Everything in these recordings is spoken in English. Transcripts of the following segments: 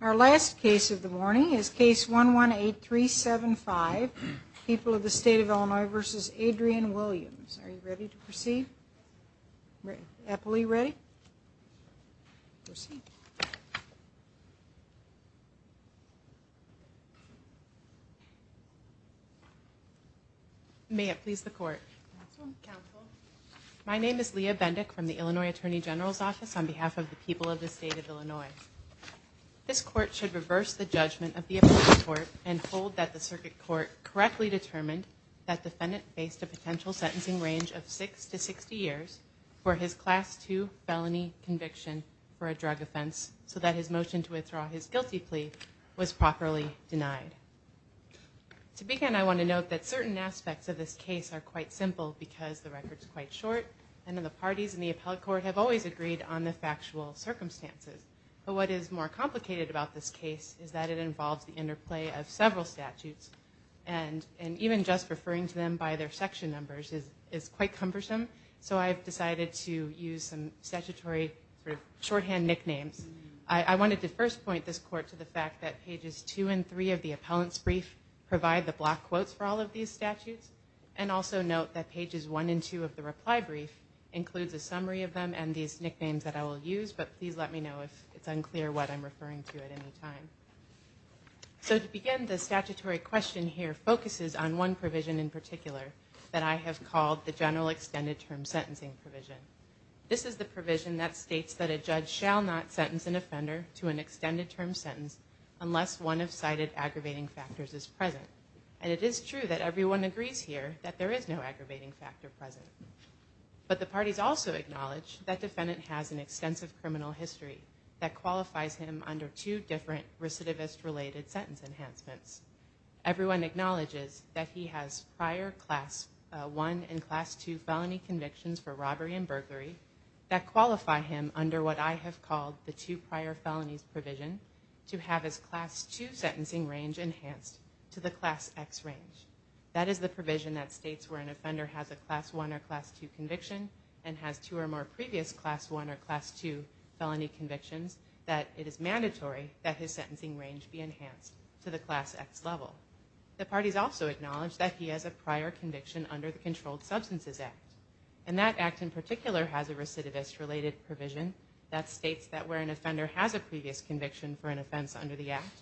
Our last case of the morning is case 118 375 people of the state of Illinois versus Adrian Williams. Are you ready to proceed? Eppley ready? May it please the court. My name is Leah Bendick from the Illinois Attorney General's Office on behalf of the people of the state of Illinois. This court should reverse the judgment of the appellate court and hold that the circuit court correctly determined that defendant faced a potential sentencing range of 6 to 60 years for his class 2 felony conviction for a drug offense so that his motion to withdraw his guilty plea was properly denied. To begin I want to note that certain aspects of this case are quite simple because the record is quite short and the parties in the appellate court have always agreed on the factual circumstances. But what is more complicated about this case is that it involves the interplay of several statutes and even just referring to them by their section numbers is quite cumbersome so I've decided to use some statutory shorthand nicknames. I wanted to first point this court to the fact that pages 2 and 3 of the appellant's brief provide the block quotes for all of these statutes and also note that pages 1 and 2 of the reply brief includes a summary of them and these nicknames that I will use but please let me know if it's unclear what I'm referring to at any time. So to begin the statutory question here focuses on one provision in particular that I have called the general extended term sentencing provision. This is the provision that states that a judge shall not sentence an offender to an extended term sentence unless one of cited aggravating factors is present and it is true that everyone agrees here that there is no aggravating factor present. But the parties also acknowledge that defendant has an extensive criminal history that qualifies him under two different recidivist related sentence enhancements. Everyone acknowledges that he has prior class 1 and class 2 felony convictions for robbery and burglary that qualify him under what I have called the two prior felonies provision to have his class 2 sentencing range enhanced to the class X range. That is the provision that states where an offender has a class 1 or class 2 conviction and has two or more previous class 1 or class 2 felony convictions that it is mandatory that his sentencing range be enhanced to the class X level. The parties also acknowledge that he has a prior conviction under the Controlled Substances Act and that act in particular has a recidivist related provision that states that where an offender has a previous conviction for an offense under the act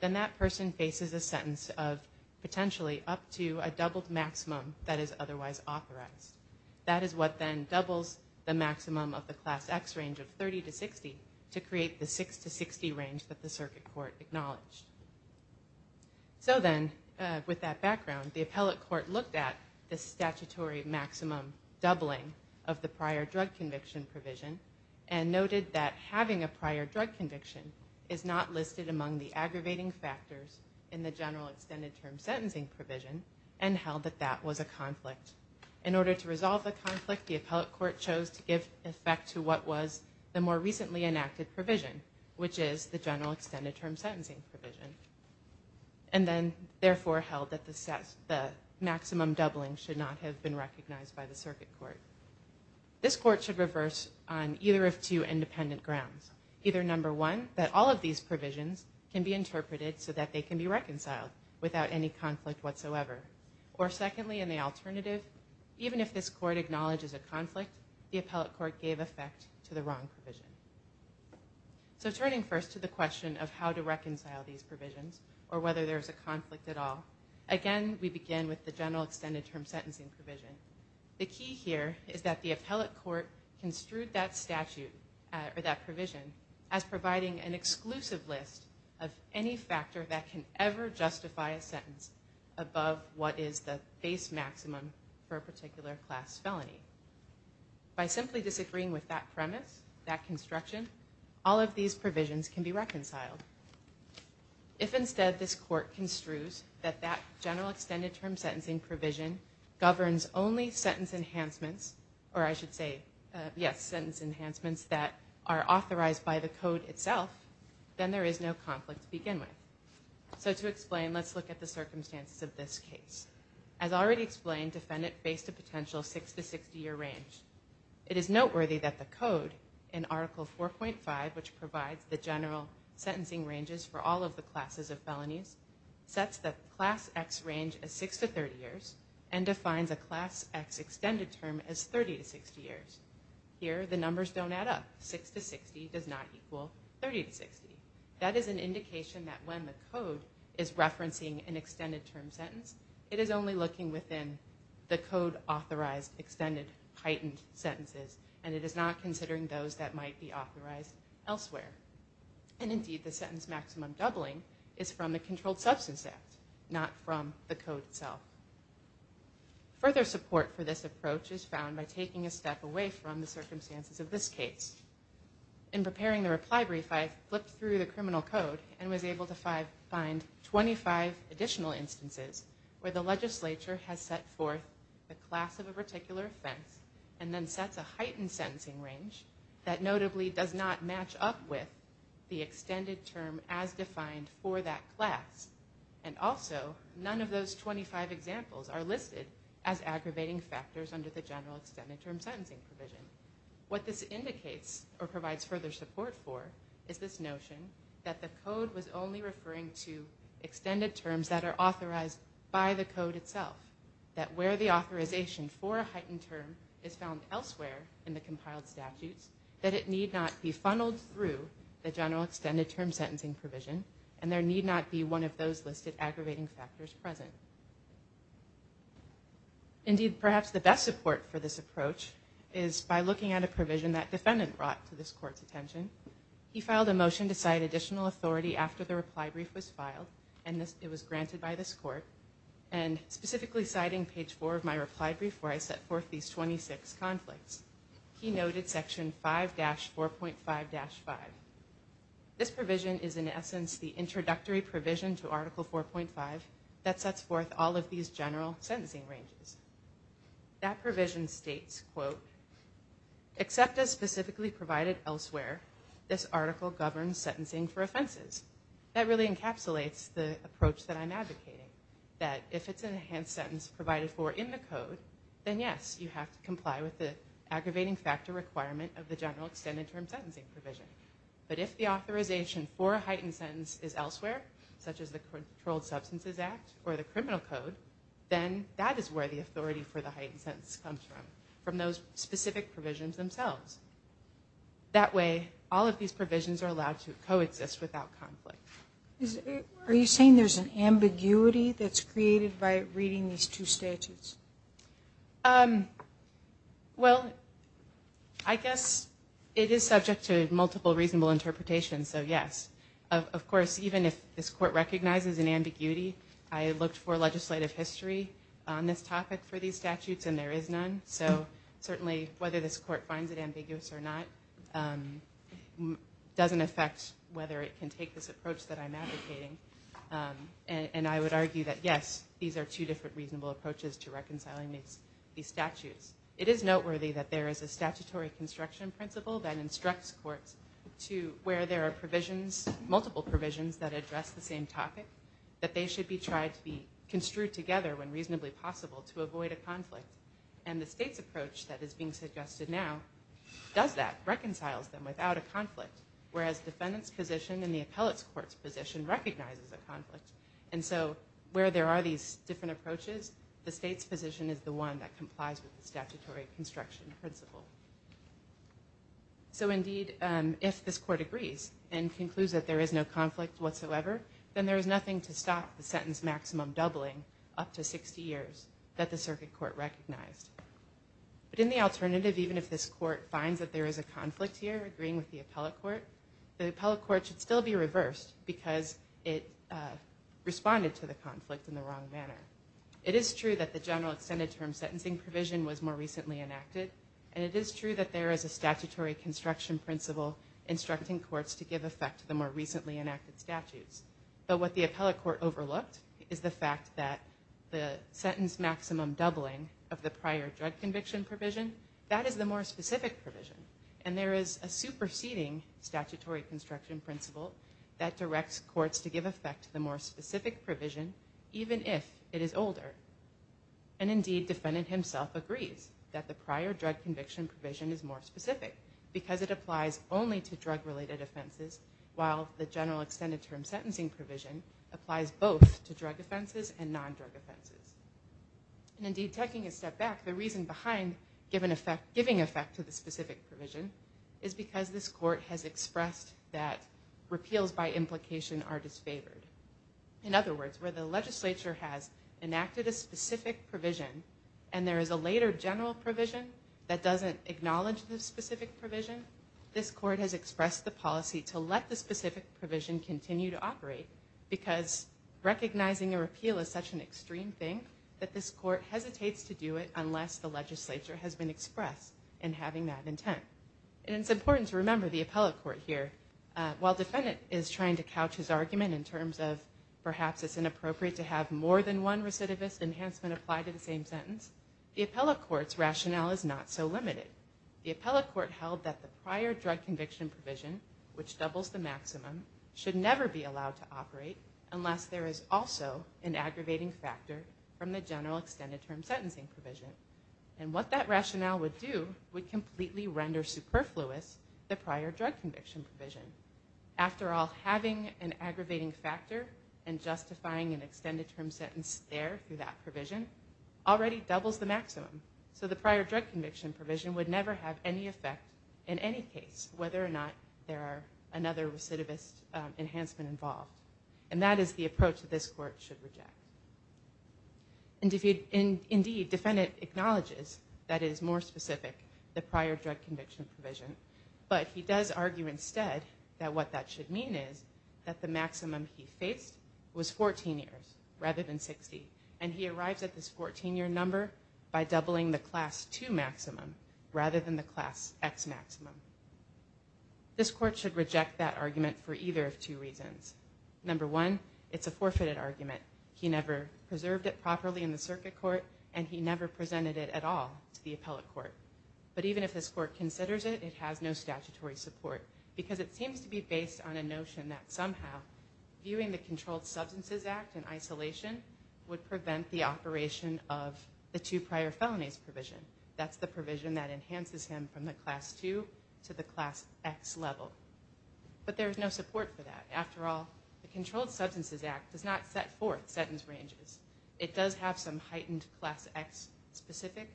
then that person faces a sentence of potentially up to a doubled maximum that is otherwise authorized. That is what then doubles the maximum of the class X range of 30 to 60 to create the 6 to 60 range that the circuit court acknowledged. So then with that background the appellate court looked at the statutory maximum doubling of the prior drug conviction provision and noted that having a prior drug conviction is not listed among the aggravating factors in the general extended term sentencing provision and held that that was a conflict. In order to resolve the conflict the appellate court chose to give effect to what was the more recently enacted provision which is the general extended term sentencing provision and then therefore held that the maximum doubling should not have been recognized by the circuit court. This court should reverse on either of two independent grounds. Either number one that all of these provisions can be interpreted so that they can be reconciled without any conflict whatsoever or secondly in the alternative even if this court acknowledges a conflict the appellate court gave effect to the wrong provision. So turning first to the question of how to reconcile these provisions or whether there is a conflict at all. Again we begin with the general extended term sentencing provision. The key here is that the appellate court construed that statute or that provision as providing an exclusive list of any factor that can ever justify a sentence above what is the base maximum for a particular class felony. By simply disagreeing with that premise that construction all of these provisions can be reconciled. If instead this court construes that that general extended term sentencing provision governs only sentence enhancements or I should say yes sentence enhancements that are authorized by the code itself then there is no conflict to begin with. So to explain let's look at the circumstances of this case. As already explained defendant faced a potential 6 to 60 year range. It is noteworthy that the code in article 4.5 which provides the general sentencing ranges for all of the classes of felonies sets the class X range as 6 to 30 years and defines a class X extended term as 30 to 60 years. Here the numbers don't add up 6 to 60 does not equal 30 to 60. That is an indication that when the code is referencing an extended term sentence it is only looking within the code authorized extended heightened sentences and it is not considering those that might be authorized elsewhere. And indeed the sentence maximum doubling is from the controlled substance act not from the code itself. Further support for this approach is found by taking a step away from the circumstances of this case. In preparing the reply brief I flipped through the criminal code and was able to find 25 additional instances where the legislature has set forth the class of a particular offense and then sets a heightened sentencing range that notably does not match up with the extended term as defined for that class. And also none of those 25 examples are listed as aggravating factors under the general extended term sentencing provision. What this indicates or provides further support for is this notion that the code was only referring to extended terms that are authorized by the code itself. That where the authorization for a heightened term is found elsewhere in the compiled statutes that it need not be funneled through the general extended term sentencing provision and there need not be one of those listed aggravating factors present. Indeed perhaps the best support for this approach is by looking at a provision that defendant brought to this court's attention. He filed a motion to cite additional authority after the reply brief was filed and it was granted by this court and specifically citing page 4 of my reply brief where I set forth these 26 conflicts. He noted section 5-4.5-5. This provision is in essence the introductory provision to article 4.5 that sets forth all of these general sentencing ranges. That provision states, quote, except as specifically provided elsewhere, this article governs sentencing for offenses. That really encapsulates the approach that I'm advocating. That if it's an enhanced sentence provided for in the code, then yes, you have to comply with the aggravating factor requirement of the general extended term sentencing provision. But if the authorization for a heightened sentence is elsewhere, such as the Controlled Substances Act or the criminal code, then that is where the authority for the heightened sentence comes from. From those specific provisions themselves. That way all of these provisions are allowed to coexist without conflict. Are you saying there's an ambiguity that's created by reading these two statutes? Well, I guess it is subject to multiple reasonable interpretations, so yes. Of course, even if this court recognizes an ambiguity, I looked for legislative history on this topic for these statutes and there is none. So certainly whether this court finds it ambiguous or not doesn't affect whether it can take this approach that I'm advocating. And I would argue that yes, these are two different reasonable approaches to reconciling these statutes. It is noteworthy that there is a statutory construction principle that instructs courts to where there are multiple provisions that address the same topic. That they should be tried to be construed together when reasonably possible to avoid a conflict. And the state's approach that is being suggested now does that. Reconciles them without a conflict. Whereas defendant's position and the appellate's court's position recognizes a conflict. And so where there are these different approaches, the state's position is the one that complies with the statutory construction principle. So indeed, if this court agrees and concludes that there is no conflict whatsoever, then there is nothing to stop the sentence maximum doubling up to 60 years that the circuit court recognized. But in the alternative, even if this court finds that there is a conflict here, agreeing with the appellate court, the appellate court should still be reversed because it responded to the conflict in the wrong manner. It is true that the general extended term sentencing provision was more recently enacted. And it is true that there is a statutory construction principle instructing courts to give effect to the more recently enacted statutes. But what the appellate court overlooked is the fact that the sentence maximum doubling of the prior drug conviction provision, that is the more specific provision. And there is a superseding statutory construction principle that directs courts to give effect to the more specific provision, even if it is older. And indeed, defendant himself agrees that the prior drug conviction provision is more specific because it applies only to drug-related offenses, while the general extended term sentencing provision applies both to drug offenses and non-drug offenses. And indeed, taking a step back, the reason behind giving effect to the specific provision is because this court has expressed that repeals by implication are disfavored. In other words, where the legislature has enacted a specific provision, and there is a later general provision that doesn't acknowledge the specific provision, this court has expressed the policy to let the specific provision continue to operate because recognizing a repeal is such an extreme thing that this court hesitates to do it unless the legislature has been expressed in having that intent. And it's important to remember the appellate court here. While defendant is trying to couch his argument in terms of perhaps it's inappropriate to have more than one recidivist enhancement applied to the same sentence, the appellate court's rationale is not so limited. The appellate court held that the prior drug conviction provision, which doubles the maximum, should never be allowed to operate unless there is also an aggravating factor from the general extended term sentencing provision. And what that rationale would do would completely render superfluous the prior drug conviction provision. After all, having an aggravating factor and justifying an extended term sentence there through that provision already doubles the maximum. So the prior drug conviction provision would never have any effect in any case whether or not there are another recidivist enhancement involved. And that is the approach that this court should reject. Indeed, defendant acknowledges that it is more specific, the prior drug conviction provision, but he does argue instead that what that should mean is that the maximum he faced was 14 years rather than 60. And he arrives at this 14-year number by doubling the Class II maximum rather than the Class X maximum. This court should reject that argument for either of two reasons. Number one, it's a forfeited argument. He never preserved it properly in the circuit court, and he never presented it at all to the appellate court. But even if this court considers it, it has no statutory support because it seems to be based on a notion that somehow viewing the Controlled Substances Act in isolation would prevent the operation of the two prior felonies provision. That's the provision that enhances him from the Class II to the Class X level. But there is no support for that. After all, the Controlled Substances Act does not set forth sentence ranges. It does have some heightened Class X-specific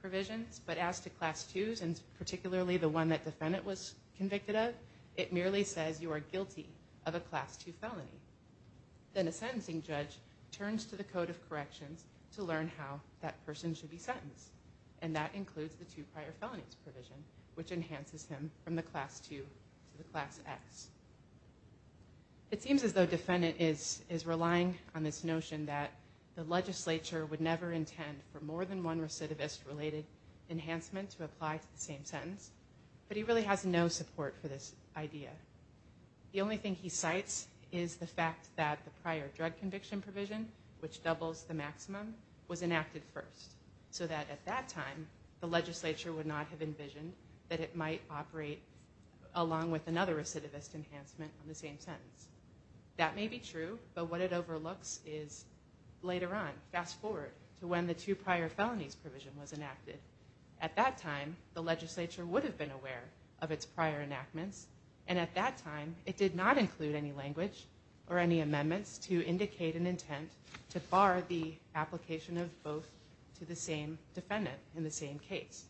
provisions, but as to Class IIs and particularly the one that defendant was convicted of, it merely says you are guilty of a Class II felony. Then a sentencing judge turns to the Code of Corrections to learn how that person should be sentenced, and that includes the two prior felonies provision, which enhances him from the Class II to the Class X. It seems as though defendant is relying on this notion that the legislature would never intend for more than one recidivist-related enhancement to apply to the same sentence, but he really has no support for this idea. The only thing he cites is the fact that the prior drug conviction provision, which doubles the maximum, was enacted first, so that at that time the legislature would not have envisioned that it might operate along with another recidivist enhancement on the same sentence. That may be true, but what it overlooks is later on. Fast forward to when the two prior felonies provision was enacted. At that time, the legislature would have been aware of its prior enactments, and at that time it did not include any language or any amendments to indicate an intent to bar the application of both to the same defendant in the same case.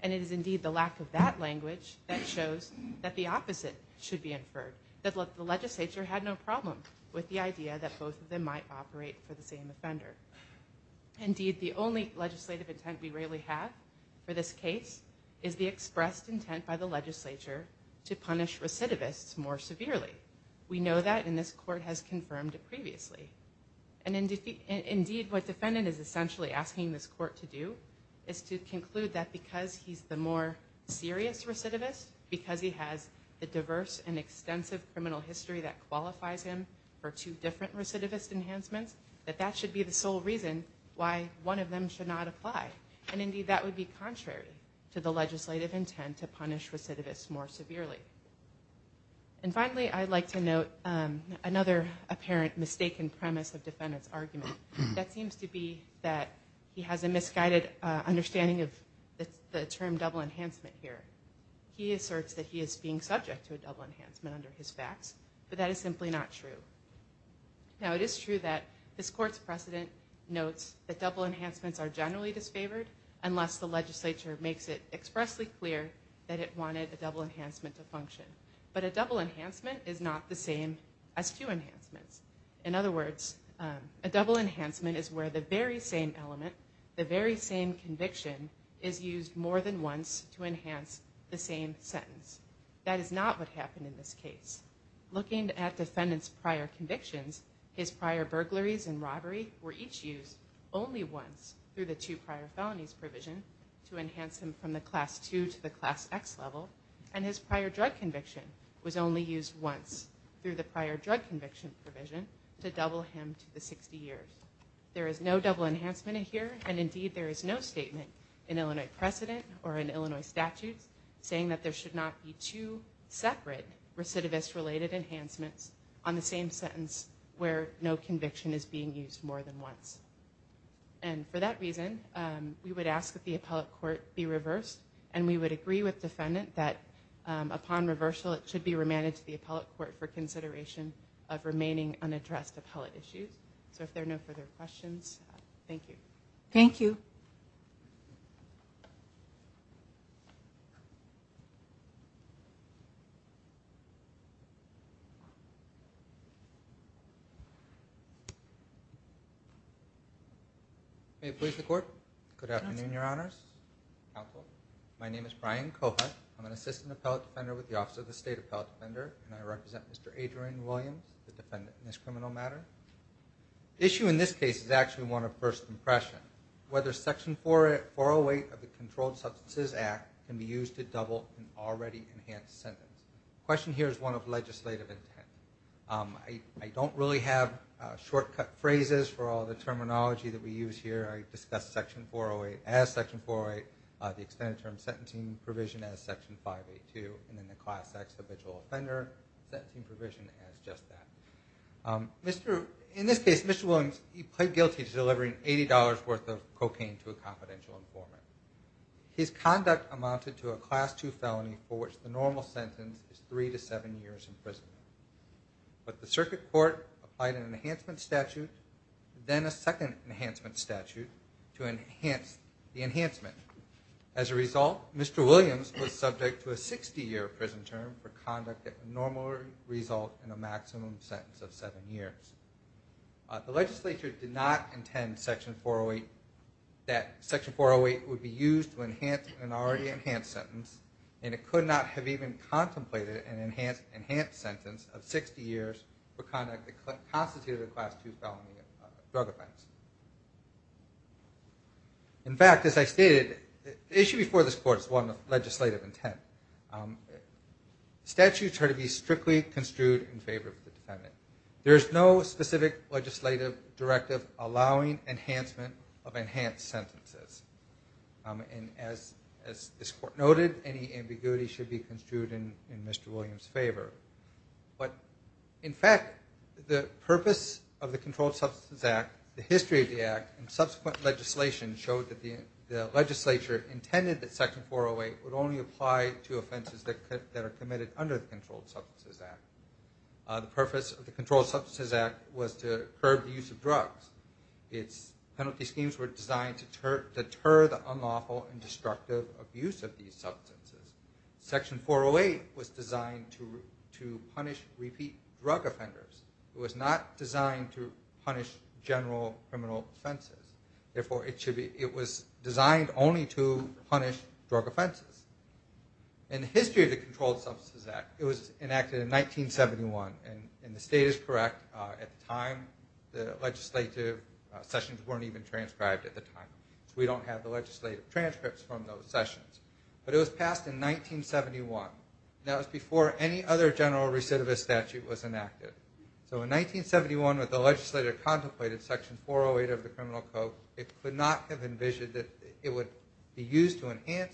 And it is indeed the lack of that language that shows that the opposite should be inferred, that the legislature had no problem with the idea that both of them might operate for the same offender. Indeed, the only legislative intent we really have for this case is the expressed intent by the legislature to punish recidivists more severely. We know that, and this court has confirmed it previously. Indeed, what the defendant is essentially asking this court to do is to conclude that because he's the more serious recidivist, because he has the diverse and extensive criminal history that qualifies him for two different recidivist enhancements, that that should be the sole reason why one of them should not apply. Indeed, that would be contrary to the legislative intent to punish recidivists more severely. And finally, I'd like to note another apparent mistaken premise of the defendant's argument. That seems to be that he has a misguided understanding of the term double enhancement here. He asserts that he is being subject to a double enhancement under his facts, but that is simply not true. Now, it is true that this court's precedent notes that double enhancements are generally disfavored unless the legislature makes it expressly clear that it wanted a double enhancement to function. But a double enhancement is not the same as two enhancements. In other words, a double enhancement is where the very same element, the very same conviction, is used more than once to enhance the same sentence. That is not what happened in this case. Looking at defendant's prior convictions, his prior burglaries and robbery were each used only once through the two prior felonies provision to enhance him from the Class II to the Class X level, and his prior drug conviction was only used once through the prior drug conviction provision to double him to the 60 years. There is no double enhancement here, and indeed there is no statement in Illinois precedent or in Illinois statutes saying that there should not be two separate recidivist-related enhancements on the same sentence where no conviction is being used more than once. And for that reason, we would ask that the appellate court be reversed, and we would agree with defendant that upon reversal it should be remanded to the appellate court for consideration of remaining unaddressed appellate issues. So if there are no further questions, thank you. Thank you. May it please the Court? Good afternoon, Your Honors, Counsel. My name is Brian Cohut. I'm an assistant appellate defender with the Office of the State Appellate Defender, and I represent Mr. Adrian Williams, the defendant in this criminal matter. The issue in this case is actually one of first impression, whether Section 408 of the Controlled Substances Act can be used to double an already enhanced sentence. The question here is one of legislative intent. I don't really have shortcut phrases for all the terminology that we use here. I discuss Section 408 as Section 408, the extended term sentencing provision as Section 582, and then the class X, the vigil offender sentencing provision as just that. In this case, Mr. Williams, he pled guilty to delivering $80 worth of cocaine to a confidential informant. His conduct amounted to a Class II felony for which the normal sentence is three to seven years in prison. But the Circuit Court applied an enhancement statute, then a second enhancement statute to enhance the enhancement. As a result, Mr. Williams was subject to a 60-year prison term for conduct that would normally result in a maximum sentence of seven years. The legislature did not intend that Section 408 would be used to enhance an already enhanced sentence, and it could not have even contemplated an enhanced sentence of 60 years for conduct that constituted a Class II felony of drug offense. In fact, as I stated, the issue before this court is one of legislative intent. Statutes are to be strictly construed in favor of the defendant. There is no specific legislative directive allowing enhancement of enhanced sentences. And as this court noted, any ambiguity should be construed in Mr. Williams' favor. But in fact, the purpose of the Controlled Substances Act, the history of the Act, and subsequent legislation showed that the legislature intended that Section 408 would only apply to offenses that are committed under the Controlled Substances Act. The purpose of the Controlled Substances Act was to curb the use of drugs. Its penalty schemes were designed to deter the unlawful and destructive abuse of these substances. Section 408 was designed to punish repeat drug offenders. It was not designed to punish general criminal offenses. Therefore, it was designed only to punish drug offenses. In the history of the Controlled Substances Act, it was enacted in 1971. And the state is correct, at the time, the legislative sessions weren't even transcribed at the time. We don't have the legislative transcripts from those sessions. But it was passed in 1971. That was before any other general recidivist statute was enacted. So in 1971, when the legislature contemplated Section 408 of the Criminal Code, it could not have envisioned that it would be used to enhance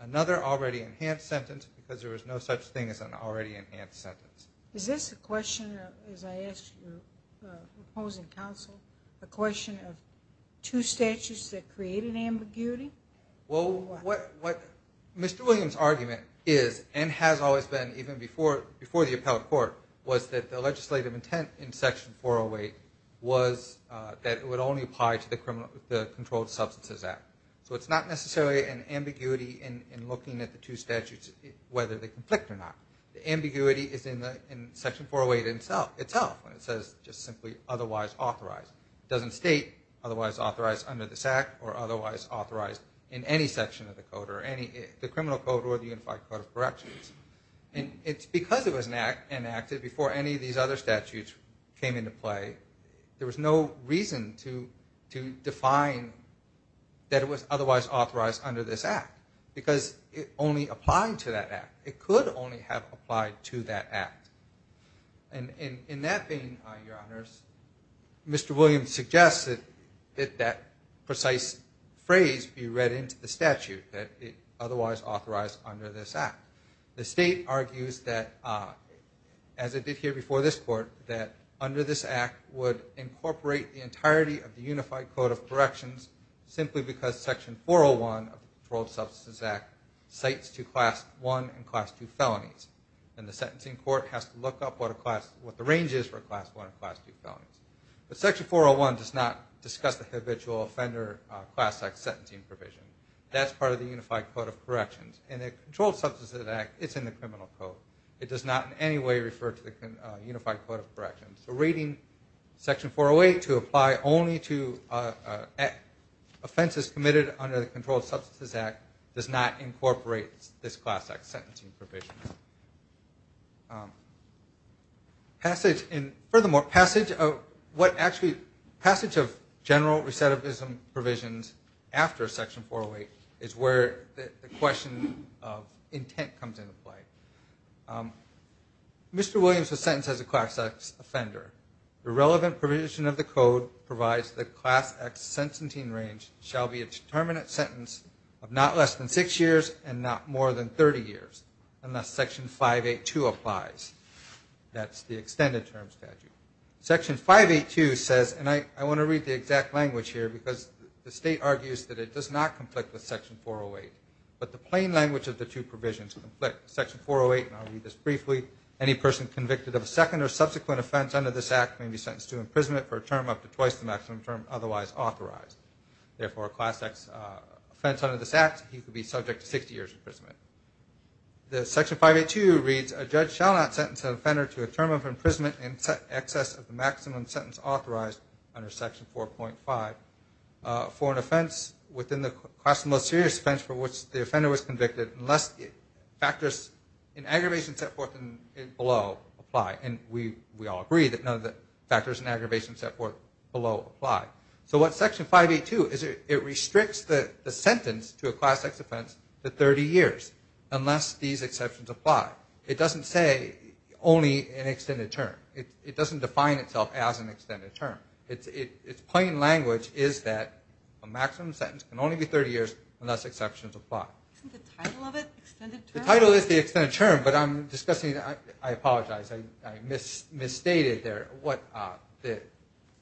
another already enhanced sentence because there was no such thing as an already enhanced sentence. Is this a question, as I ask your opposing counsel, a question of two statutes that create an ambiguity? Well, what Mr. Williams' argument is and has always been, even before the appellate court, was that the legislative intent in Section 408 was that it would only apply to the Controlled Substances Act. So it's not necessarily an ambiguity in looking at the two statutes, whether they conflict or not. The ambiguity is in Section 408 itself when it says just simply otherwise authorized. It doesn't state otherwise authorized under this act or otherwise authorized in any section of the code, the Criminal Code or the Unified Code of Corrections. And it's because it was enacted before any of these other statutes came into play, there was no reason to define that it was otherwise authorized under this act because it only applied to that act. It could only have applied to that act. And in that vein, Your Honors, Mr. Williams suggests that that precise phrase be read into the statute, that it otherwise authorized under this act. The state argues that, as it did here before this court, that under this act would incorporate the entirety of the Unified Code of Corrections simply because Section 401 of the Controlled Substances Act cites to Class I and Class II felonies. And the sentencing court has to look up what the range is for Class I and Class II felonies. But Section 401 does not discuss the habitual offender class act sentencing provision. That's part of the Unified Code of Corrections. In the Controlled Substances Act, it's in the Criminal Code. It does not in any way refer to the Unified Code of Corrections. So rating Section 408 to apply only to offenses committed under the Controlled Substances Act does not incorporate this class act sentencing provision. Furthermore, passage of general recidivism provisions after Section 408 is where the question of intent comes into play. Mr. Williams was sentenced as a class act offender. The relevant provision of the code provides that class act sentencing range shall be a determinate sentence of not less than six years and not more than 30 years, unless Section 582 applies. That's the extended term statute. Section 582 says, and I want to read the exact language here because the state argues that it does not conflict with Section 408. But the plain language of the two provisions conflict. Section 408, and I'll read this briefly, any person convicted of a second or subsequent offense under this act may be sentenced to imprisonment for a term up to twice the maximum term otherwise authorized. Therefore, a class act offense under this act, he could be subject to 60 years imprisonment. Section 582 reads, a judge shall not sentence an offender to a term of imprisonment in excess of the maximum sentence authorized under Section 4.5 for an offense within the class of most serious offense for which the offender was convicted unless factors in aggravation set forth below apply. And we all agree that none of the factors in aggravation set forth below apply. So what Section 582 is, it restricts the sentence to a class act offense to 30 years, unless these exceptions apply. It doesn't say only an extended term. It doesn't define itself as an extended term. Its plain language is that a maximum sentence can only be 30 years unless exceptions apply. Isn't the title of it extended term? The title is the extended term, but I'm discussing, I apologize, I misstated there.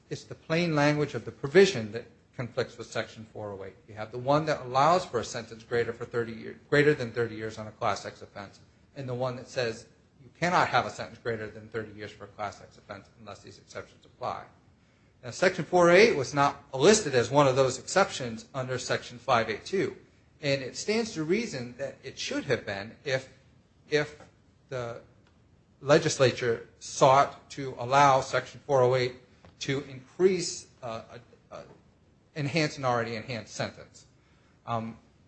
It's the plain language of the provision that conflicts with Section 408. You have the one that allows for a sentence greater than 30 years on a class act offense and the one that says you cannot have a sentence greater than 30 years for a class act offense unless these exceptions apply. Section 408 was not listed as one of those exceptions under Section 582. And it stands to reason that it should have been if the legislature sought to allow Section 408 to increase an enhanced and already enhanced sentence.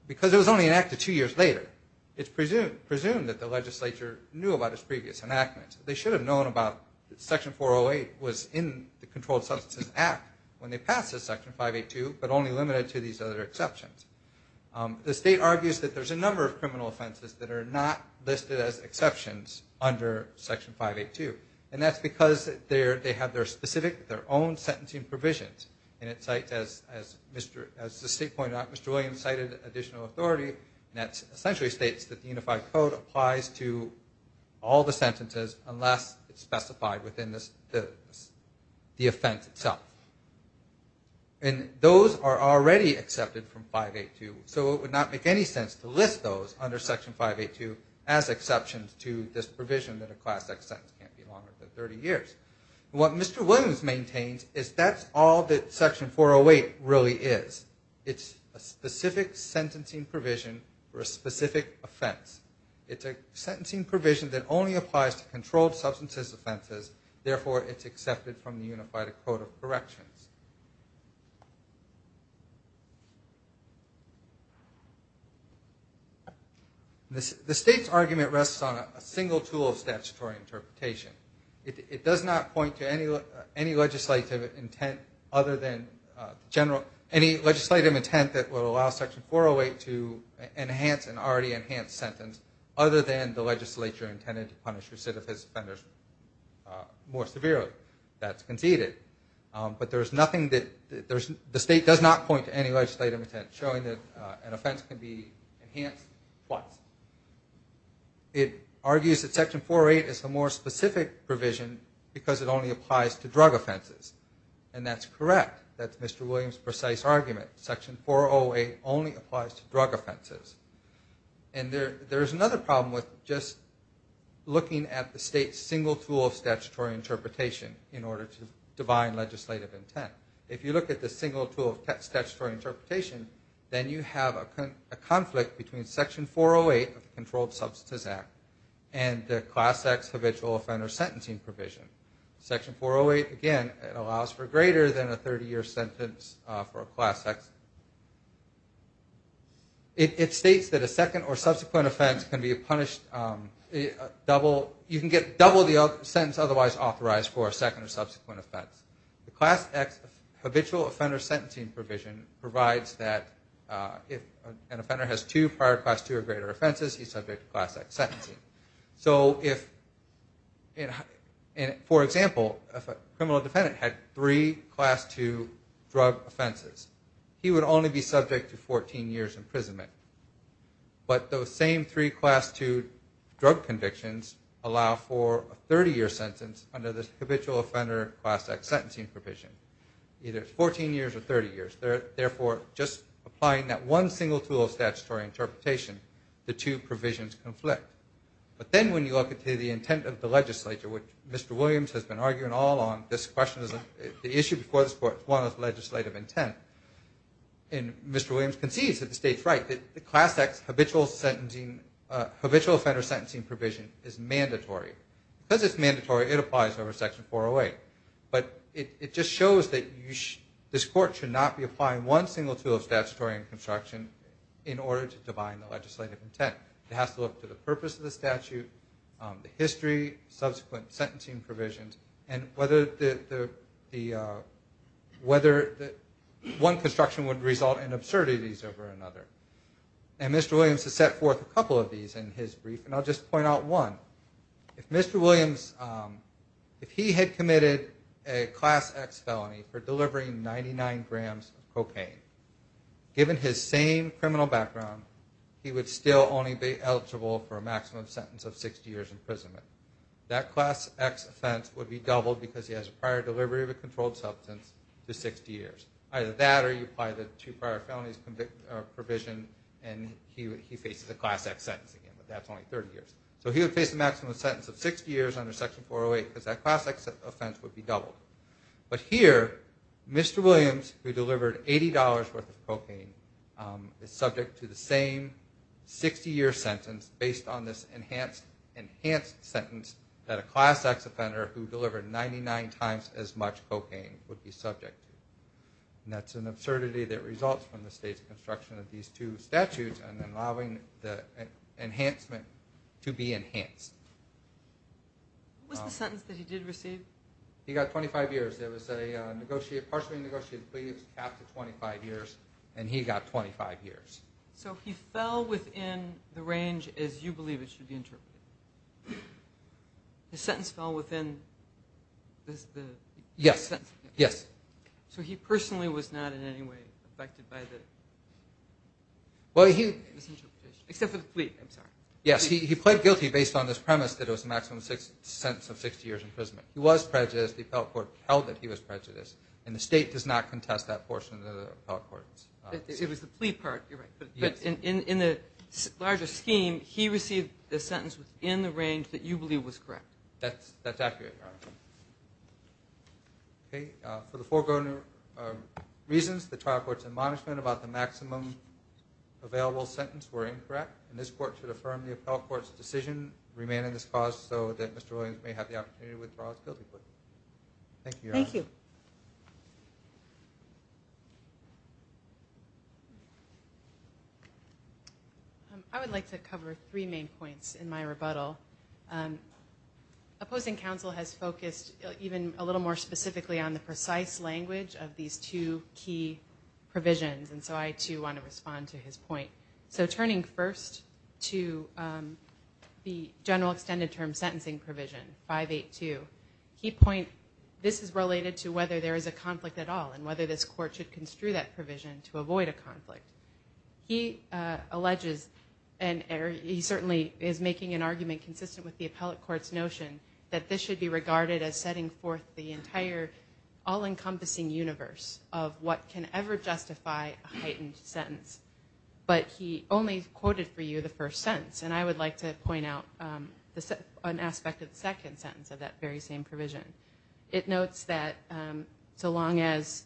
Because it was only enacted two years later. It's presumed that the legislature knew about its previous enactment. They should have known about Section 408 was in the Controlled Substances Act when they passed this Section 582, but only limited to these other exceptions. The state argues that there's a number of criminal offenses that are not listed as exceptions under Section 582. And that's because they have their specific, their own sentencing provisions. And it cites, as the state pointed out, Mr. Williams cited additional authority, and that essentially states that the Unified Code applies to all the sentences unless it's specified within the offense itself. And those are already accepted from 582, so it would not make any sense to list those under Section 582 as exceptions to this provision that a class act sentence can't be longer than 30 years. What Mr. Williams maintains is that's all that Section 408 really is. It's a specific sentencing provision for a specific offense. It's a sentencing provision that only applies to controlled substances offenses. Therefore, it's accepted from the Unified Code of Corrections. The state's argument rests on a single tool of statutory interpretation. It does not point to any legislative intent other than general, any legislative intent that will allow Section 408 to enhance an already enhanced sentence other than the legislature intended to punish recidivist offenders more severely. That's conceded. But there's nothing that, the state does not point to any legislative intent showing that an offense can be enhanced twice. It argues that Section 408 is a more specific provision because it only applies to drug offenses. And that's correct. That's Mr. Williams' precise argument. Section 408 only applies to drug offenses. And there's another problem with just looking at the state's single tool of statutory interpretation in order to divine legislative intent. If you look at the single tool of statutory interpretation, then you have a conflict between Section 408 of the Controlled Substances Act and the Class X Habitual Offender Sentencing Provision. Section 408, again, it allows for greater than a 30-year sentence for a Class X. It states that a second or subsequent offense can be punished double, you can get double the sentence otherwise authorized for a second or subsequent offense. The Class X Habitual Offender Sentencing Provision provides that if an offender has two prior Class II or greater offenses, he's subject to Class X sentencing. For example, if a criminal defendant had three Class II drug offenses, he would only be subject to 14 years imprisonment. But those same three Class II drug convictions allow for a 30-year sentence under the Habitual Offender Class X Sentencing Provision. Either 14 years or 30 years. Therefore, just applying that one single tool of statutory interpretation, the two provisions conflict. But then when you look at the intent of the legislature, which Mr. Williams has been arguing all along, the issue before this Court is one of legislative intent. And Mr. Williams concedes that the state's right, that the Class X Habitual Offender Sentencing Provision is mandatory. Because it's mandatory, it applies over Section 408. But it just shows that this Court should not be applying one single tool of statutory construction in order to divine the legislative intent. It has to look to the purpose of the statute, the history, subsequent sentencing provisions, and whether one construction would result in absurdities over another. And Mr. Williams has set forth a couple of these in his brief, and I'll just point out one. If Mr. Williams, if he had committed a Class X felony for delivering 99 grams of cocaine, given his same criminal background, he would still only be eligible for a maximum sentence of 60 years imprisonment. That Class X offense would be doubled because he has a prior delivery of a controlled substance to 60 years. Either that or you apply the two prior felonies provision and he faces a Class X sentence again, but that's only 30 years. So he would face a maximum sentence of 60 years under Section 408 because that Class X offense would be doubled. But here, Mr. Williams, who delivered $80 worth of cocaine, is subject to the same 60-year sentence based on this enhanced sentence that a Class X offender who delivered 99 times as much cocaine would be subject to. And that's an absurdity that results from the state's construction of these two statutes and then allowing the enhancement to be enhanced. What was the sentence that he did receive? He got 25 years. There was a partially negotiated plea of half to 25 years, and he got 25 years. So he fell within the range as you believe it should be interpreted. The sentence fell within the sentence. Yes. So he personally was not in any way affected by the misinterpretation, except for the plea, I'm sorry. Yes. He pled guilty based on this premise that it was a maximum sentence of 60 years in prison. He was prejudiced. The appellate court held that he was prejudiced, and the state does not contest that portion of the appellate court. It was the plea part. You're right. But in the larger scheme, he received the sentence within the range that you believe was correct. That's accurate, Your Honor. For the foregoing reasons, the trial court's admonishment about the maximum available sentence were incorrect, and this court should affirm the appellate court's decision, remanding this cause so that Mr. Williams may have the opportunity to withdraw his guilty plea. Thank you, Your Honor. Thank you. I would like to cover three main points in my rebuttal. Opposing counsel has focused even a little more specifically on the precise language of these two key provisions, and so I, too, want to respond to his point. So turning first to the general extended term sentencing provision, 582, he points this is related to whether there is a conflict at all and whether this court should construe that provision to avoid a conflict. He alleges, and he certainly is making an argument consistent with the appellate court's notion, that this should be regarded as setting forth the entire all-encompassing universe of what can ever justify a heightened sentence. But he only quoted for you the first sentence, and I would like to point out an aspect of the second sentence of that very same provision. It notes that so long as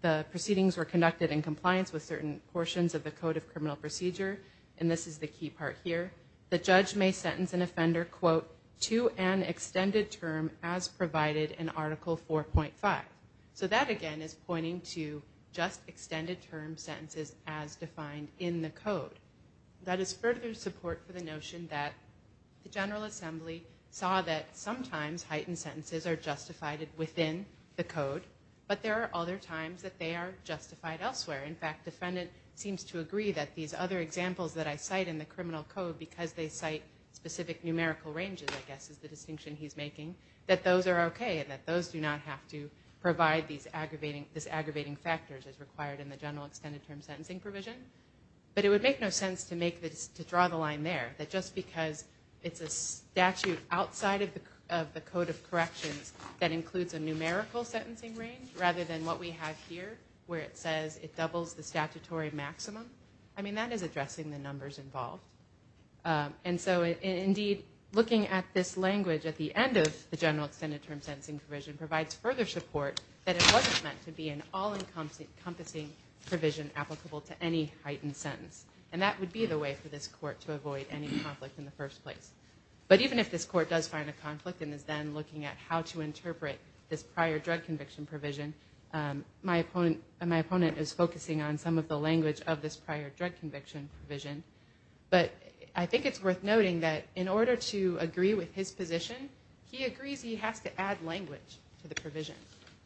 the proceedings were conducted in compliance with certain portions of the Code of Criminal Procedure, and this is the key part here, the judge may sentence an offender, quote, to an extended term as provided in Article 4.5. So that, again, is pointing to just extended term sentences as defined in the code. That is further support for the notion that the General Assembly saw that sometimes heightened sentences are justified within the code, but there are other times that they are justified elsewhere. In fact, the defendant seems to agree that these other examples that I cite in the criminal code, because they cite specific numerical ranges, I guess is the distinction he's making, that those are okay and that those do not have to provide these aggravating factors as required in the general extended term sentencing provision. But it would make no sense to draw the line there, that just because it's a statute outside of the Code of Corrections that includes a numerical sentencing range rather than what we have here where it says it doubles the statutory maximum. I mean, that is addressing the numbers involved. And so, indeed, looking at this language at the end of the general extended term sentencing provision provides further support that it wasn't meant to be an all-encompassing provision applicable to any heightened sentence. And that would be the way for this Court to avoid any conflict in the first place. But even if this Court does find a conflict and is then looking at how to interpret this prior drug conviction provision, my opponent is focusing on some of the language of this prior drug conviction provision. But I think it's worth noting that in order to agree with his position, he agrees he has to add language to the provision.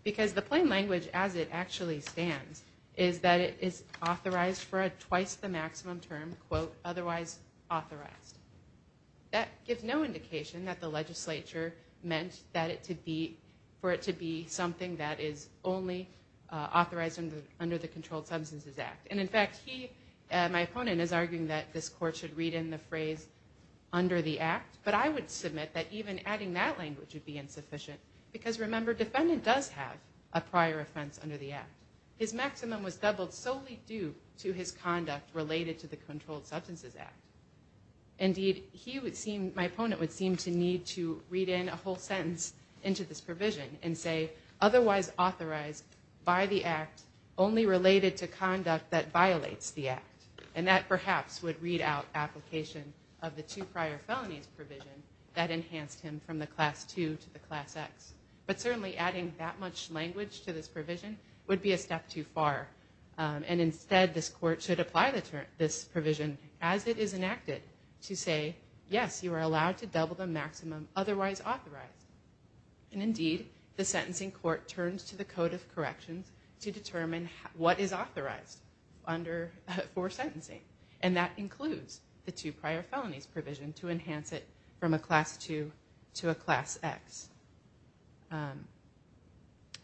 Because the plain language as it actually stands is that it is authorized for a twice the maximum term, quote, otherwise authorized. That gives no indication that the legislature meant for it to be something that is only authorized under the Controlled Substances Act. And, in fact, he, my opponent, is arguing that this Court should read in the phrase under the act. But I would submit that even adding that language would be insufficient. Because, remember, defendant does have a prior offense under the act. His maximum was doubled solely due to his conduct related to the Controlled Substances Act. Indeed, he would seem, my opponent would seem to need to read in a whole sentence into this provision and say, otherwise authorized by the act, only related to conduct that violates the act. And that perhaps would read out application of the two prior felonies provision that enhanced him from the Class II to the Class X. But certainly adding that much language to this provision would be a step too far. And, instead, this Court should apply this provision as it is enacted to say, yes, you are allowed to double the maximum otherwise authorized. And, indeed, the sentencing court turns to the Code of Corrections to determine what is authorized for sentencing. And that includes the two prior felonies provision to enhance it from a Class II to a Class X.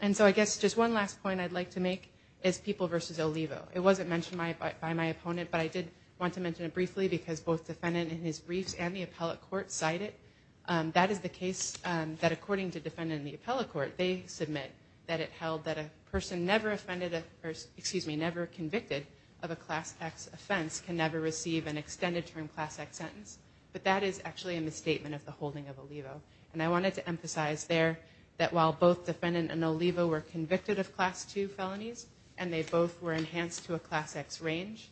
And so I guess just one last point I'd like to make is People v. Olivo. It wasn't mentioned by my opponent, but I did want to mention it briefly because both defendant in his briefs and the appellate court cite it. That is the case that, according to defendant in the appellate court, they submit that it held that a person never offended or, excuse me, never convicted of a Class X offense can never receive an extended term Class X sentence. But that is actually a misstatement of the holding of Olivo. And I wanted to emphasize there that while both defendant and Olivo were convicted of Class II felonies, and they both were enhanced to a Class X range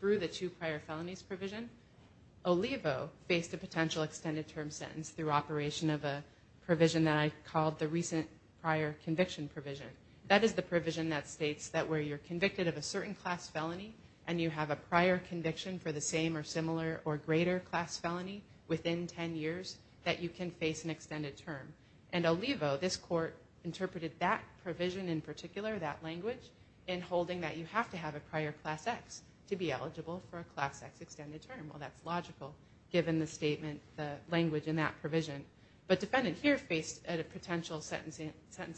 through the two prior felonies provision, Olivo faced a potential extended term sentence through operation of a provision that I called the recent prior conviction provision. That is the provision that states that where you're convicted of a certain Class felony and you have a prior conviction for the same or similar or greater Class felony within 10 years, that you can face an extended term. And Olivo, this court, interpreted that provision in particular, that language, in holding that you have to have a prior Class X to be eligible for a Class X extended term. Well, that's logical given the language in that provision. But defendant here faced a potential sentence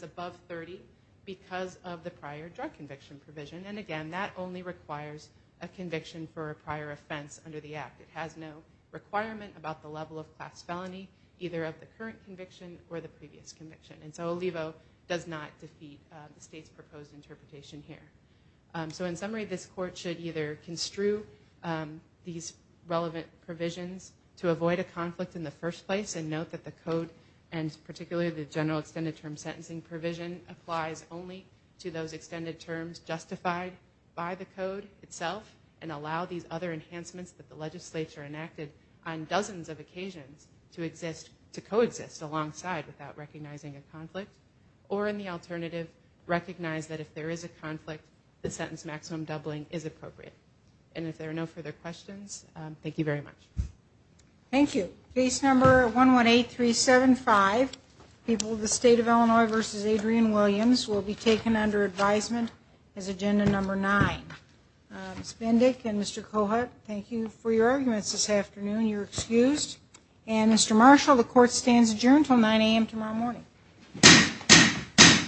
above 30 because of the prior drug conviction provision. And again, that only requires a conviction for a prior offense under the Act. It has no requirement about the level of Class felony, either of the current conviction or the previous conviction. And so Olivo does not defeat the state's proposed interpretation here. So in summary, this court should either construe these relevant provisions to avoid a conflict in the first place and note that the code, and particularly the general extended term sentencing provision, applies only to those extended terms justified by the code itself and allow these other enhancements that the legislature enacted on dozens of occasions to coexist alongside without recognizing a conflict. Or in the alternative, recognize that if there is a conflict, the sentence maximum doubling is appropriate. And if there are no further questions, thank you very much. Thank you. Case number 118375, People of the State of Illinois v. Adrian Williams, will be taken under advisement as Agenda Number 9. Ms. Bindic and Mr. Cohut, thank you for your arguments this afternoon. You're excused. And Mr. Marshall, the court stands adjourned until 9 a.m. tomorrow morning.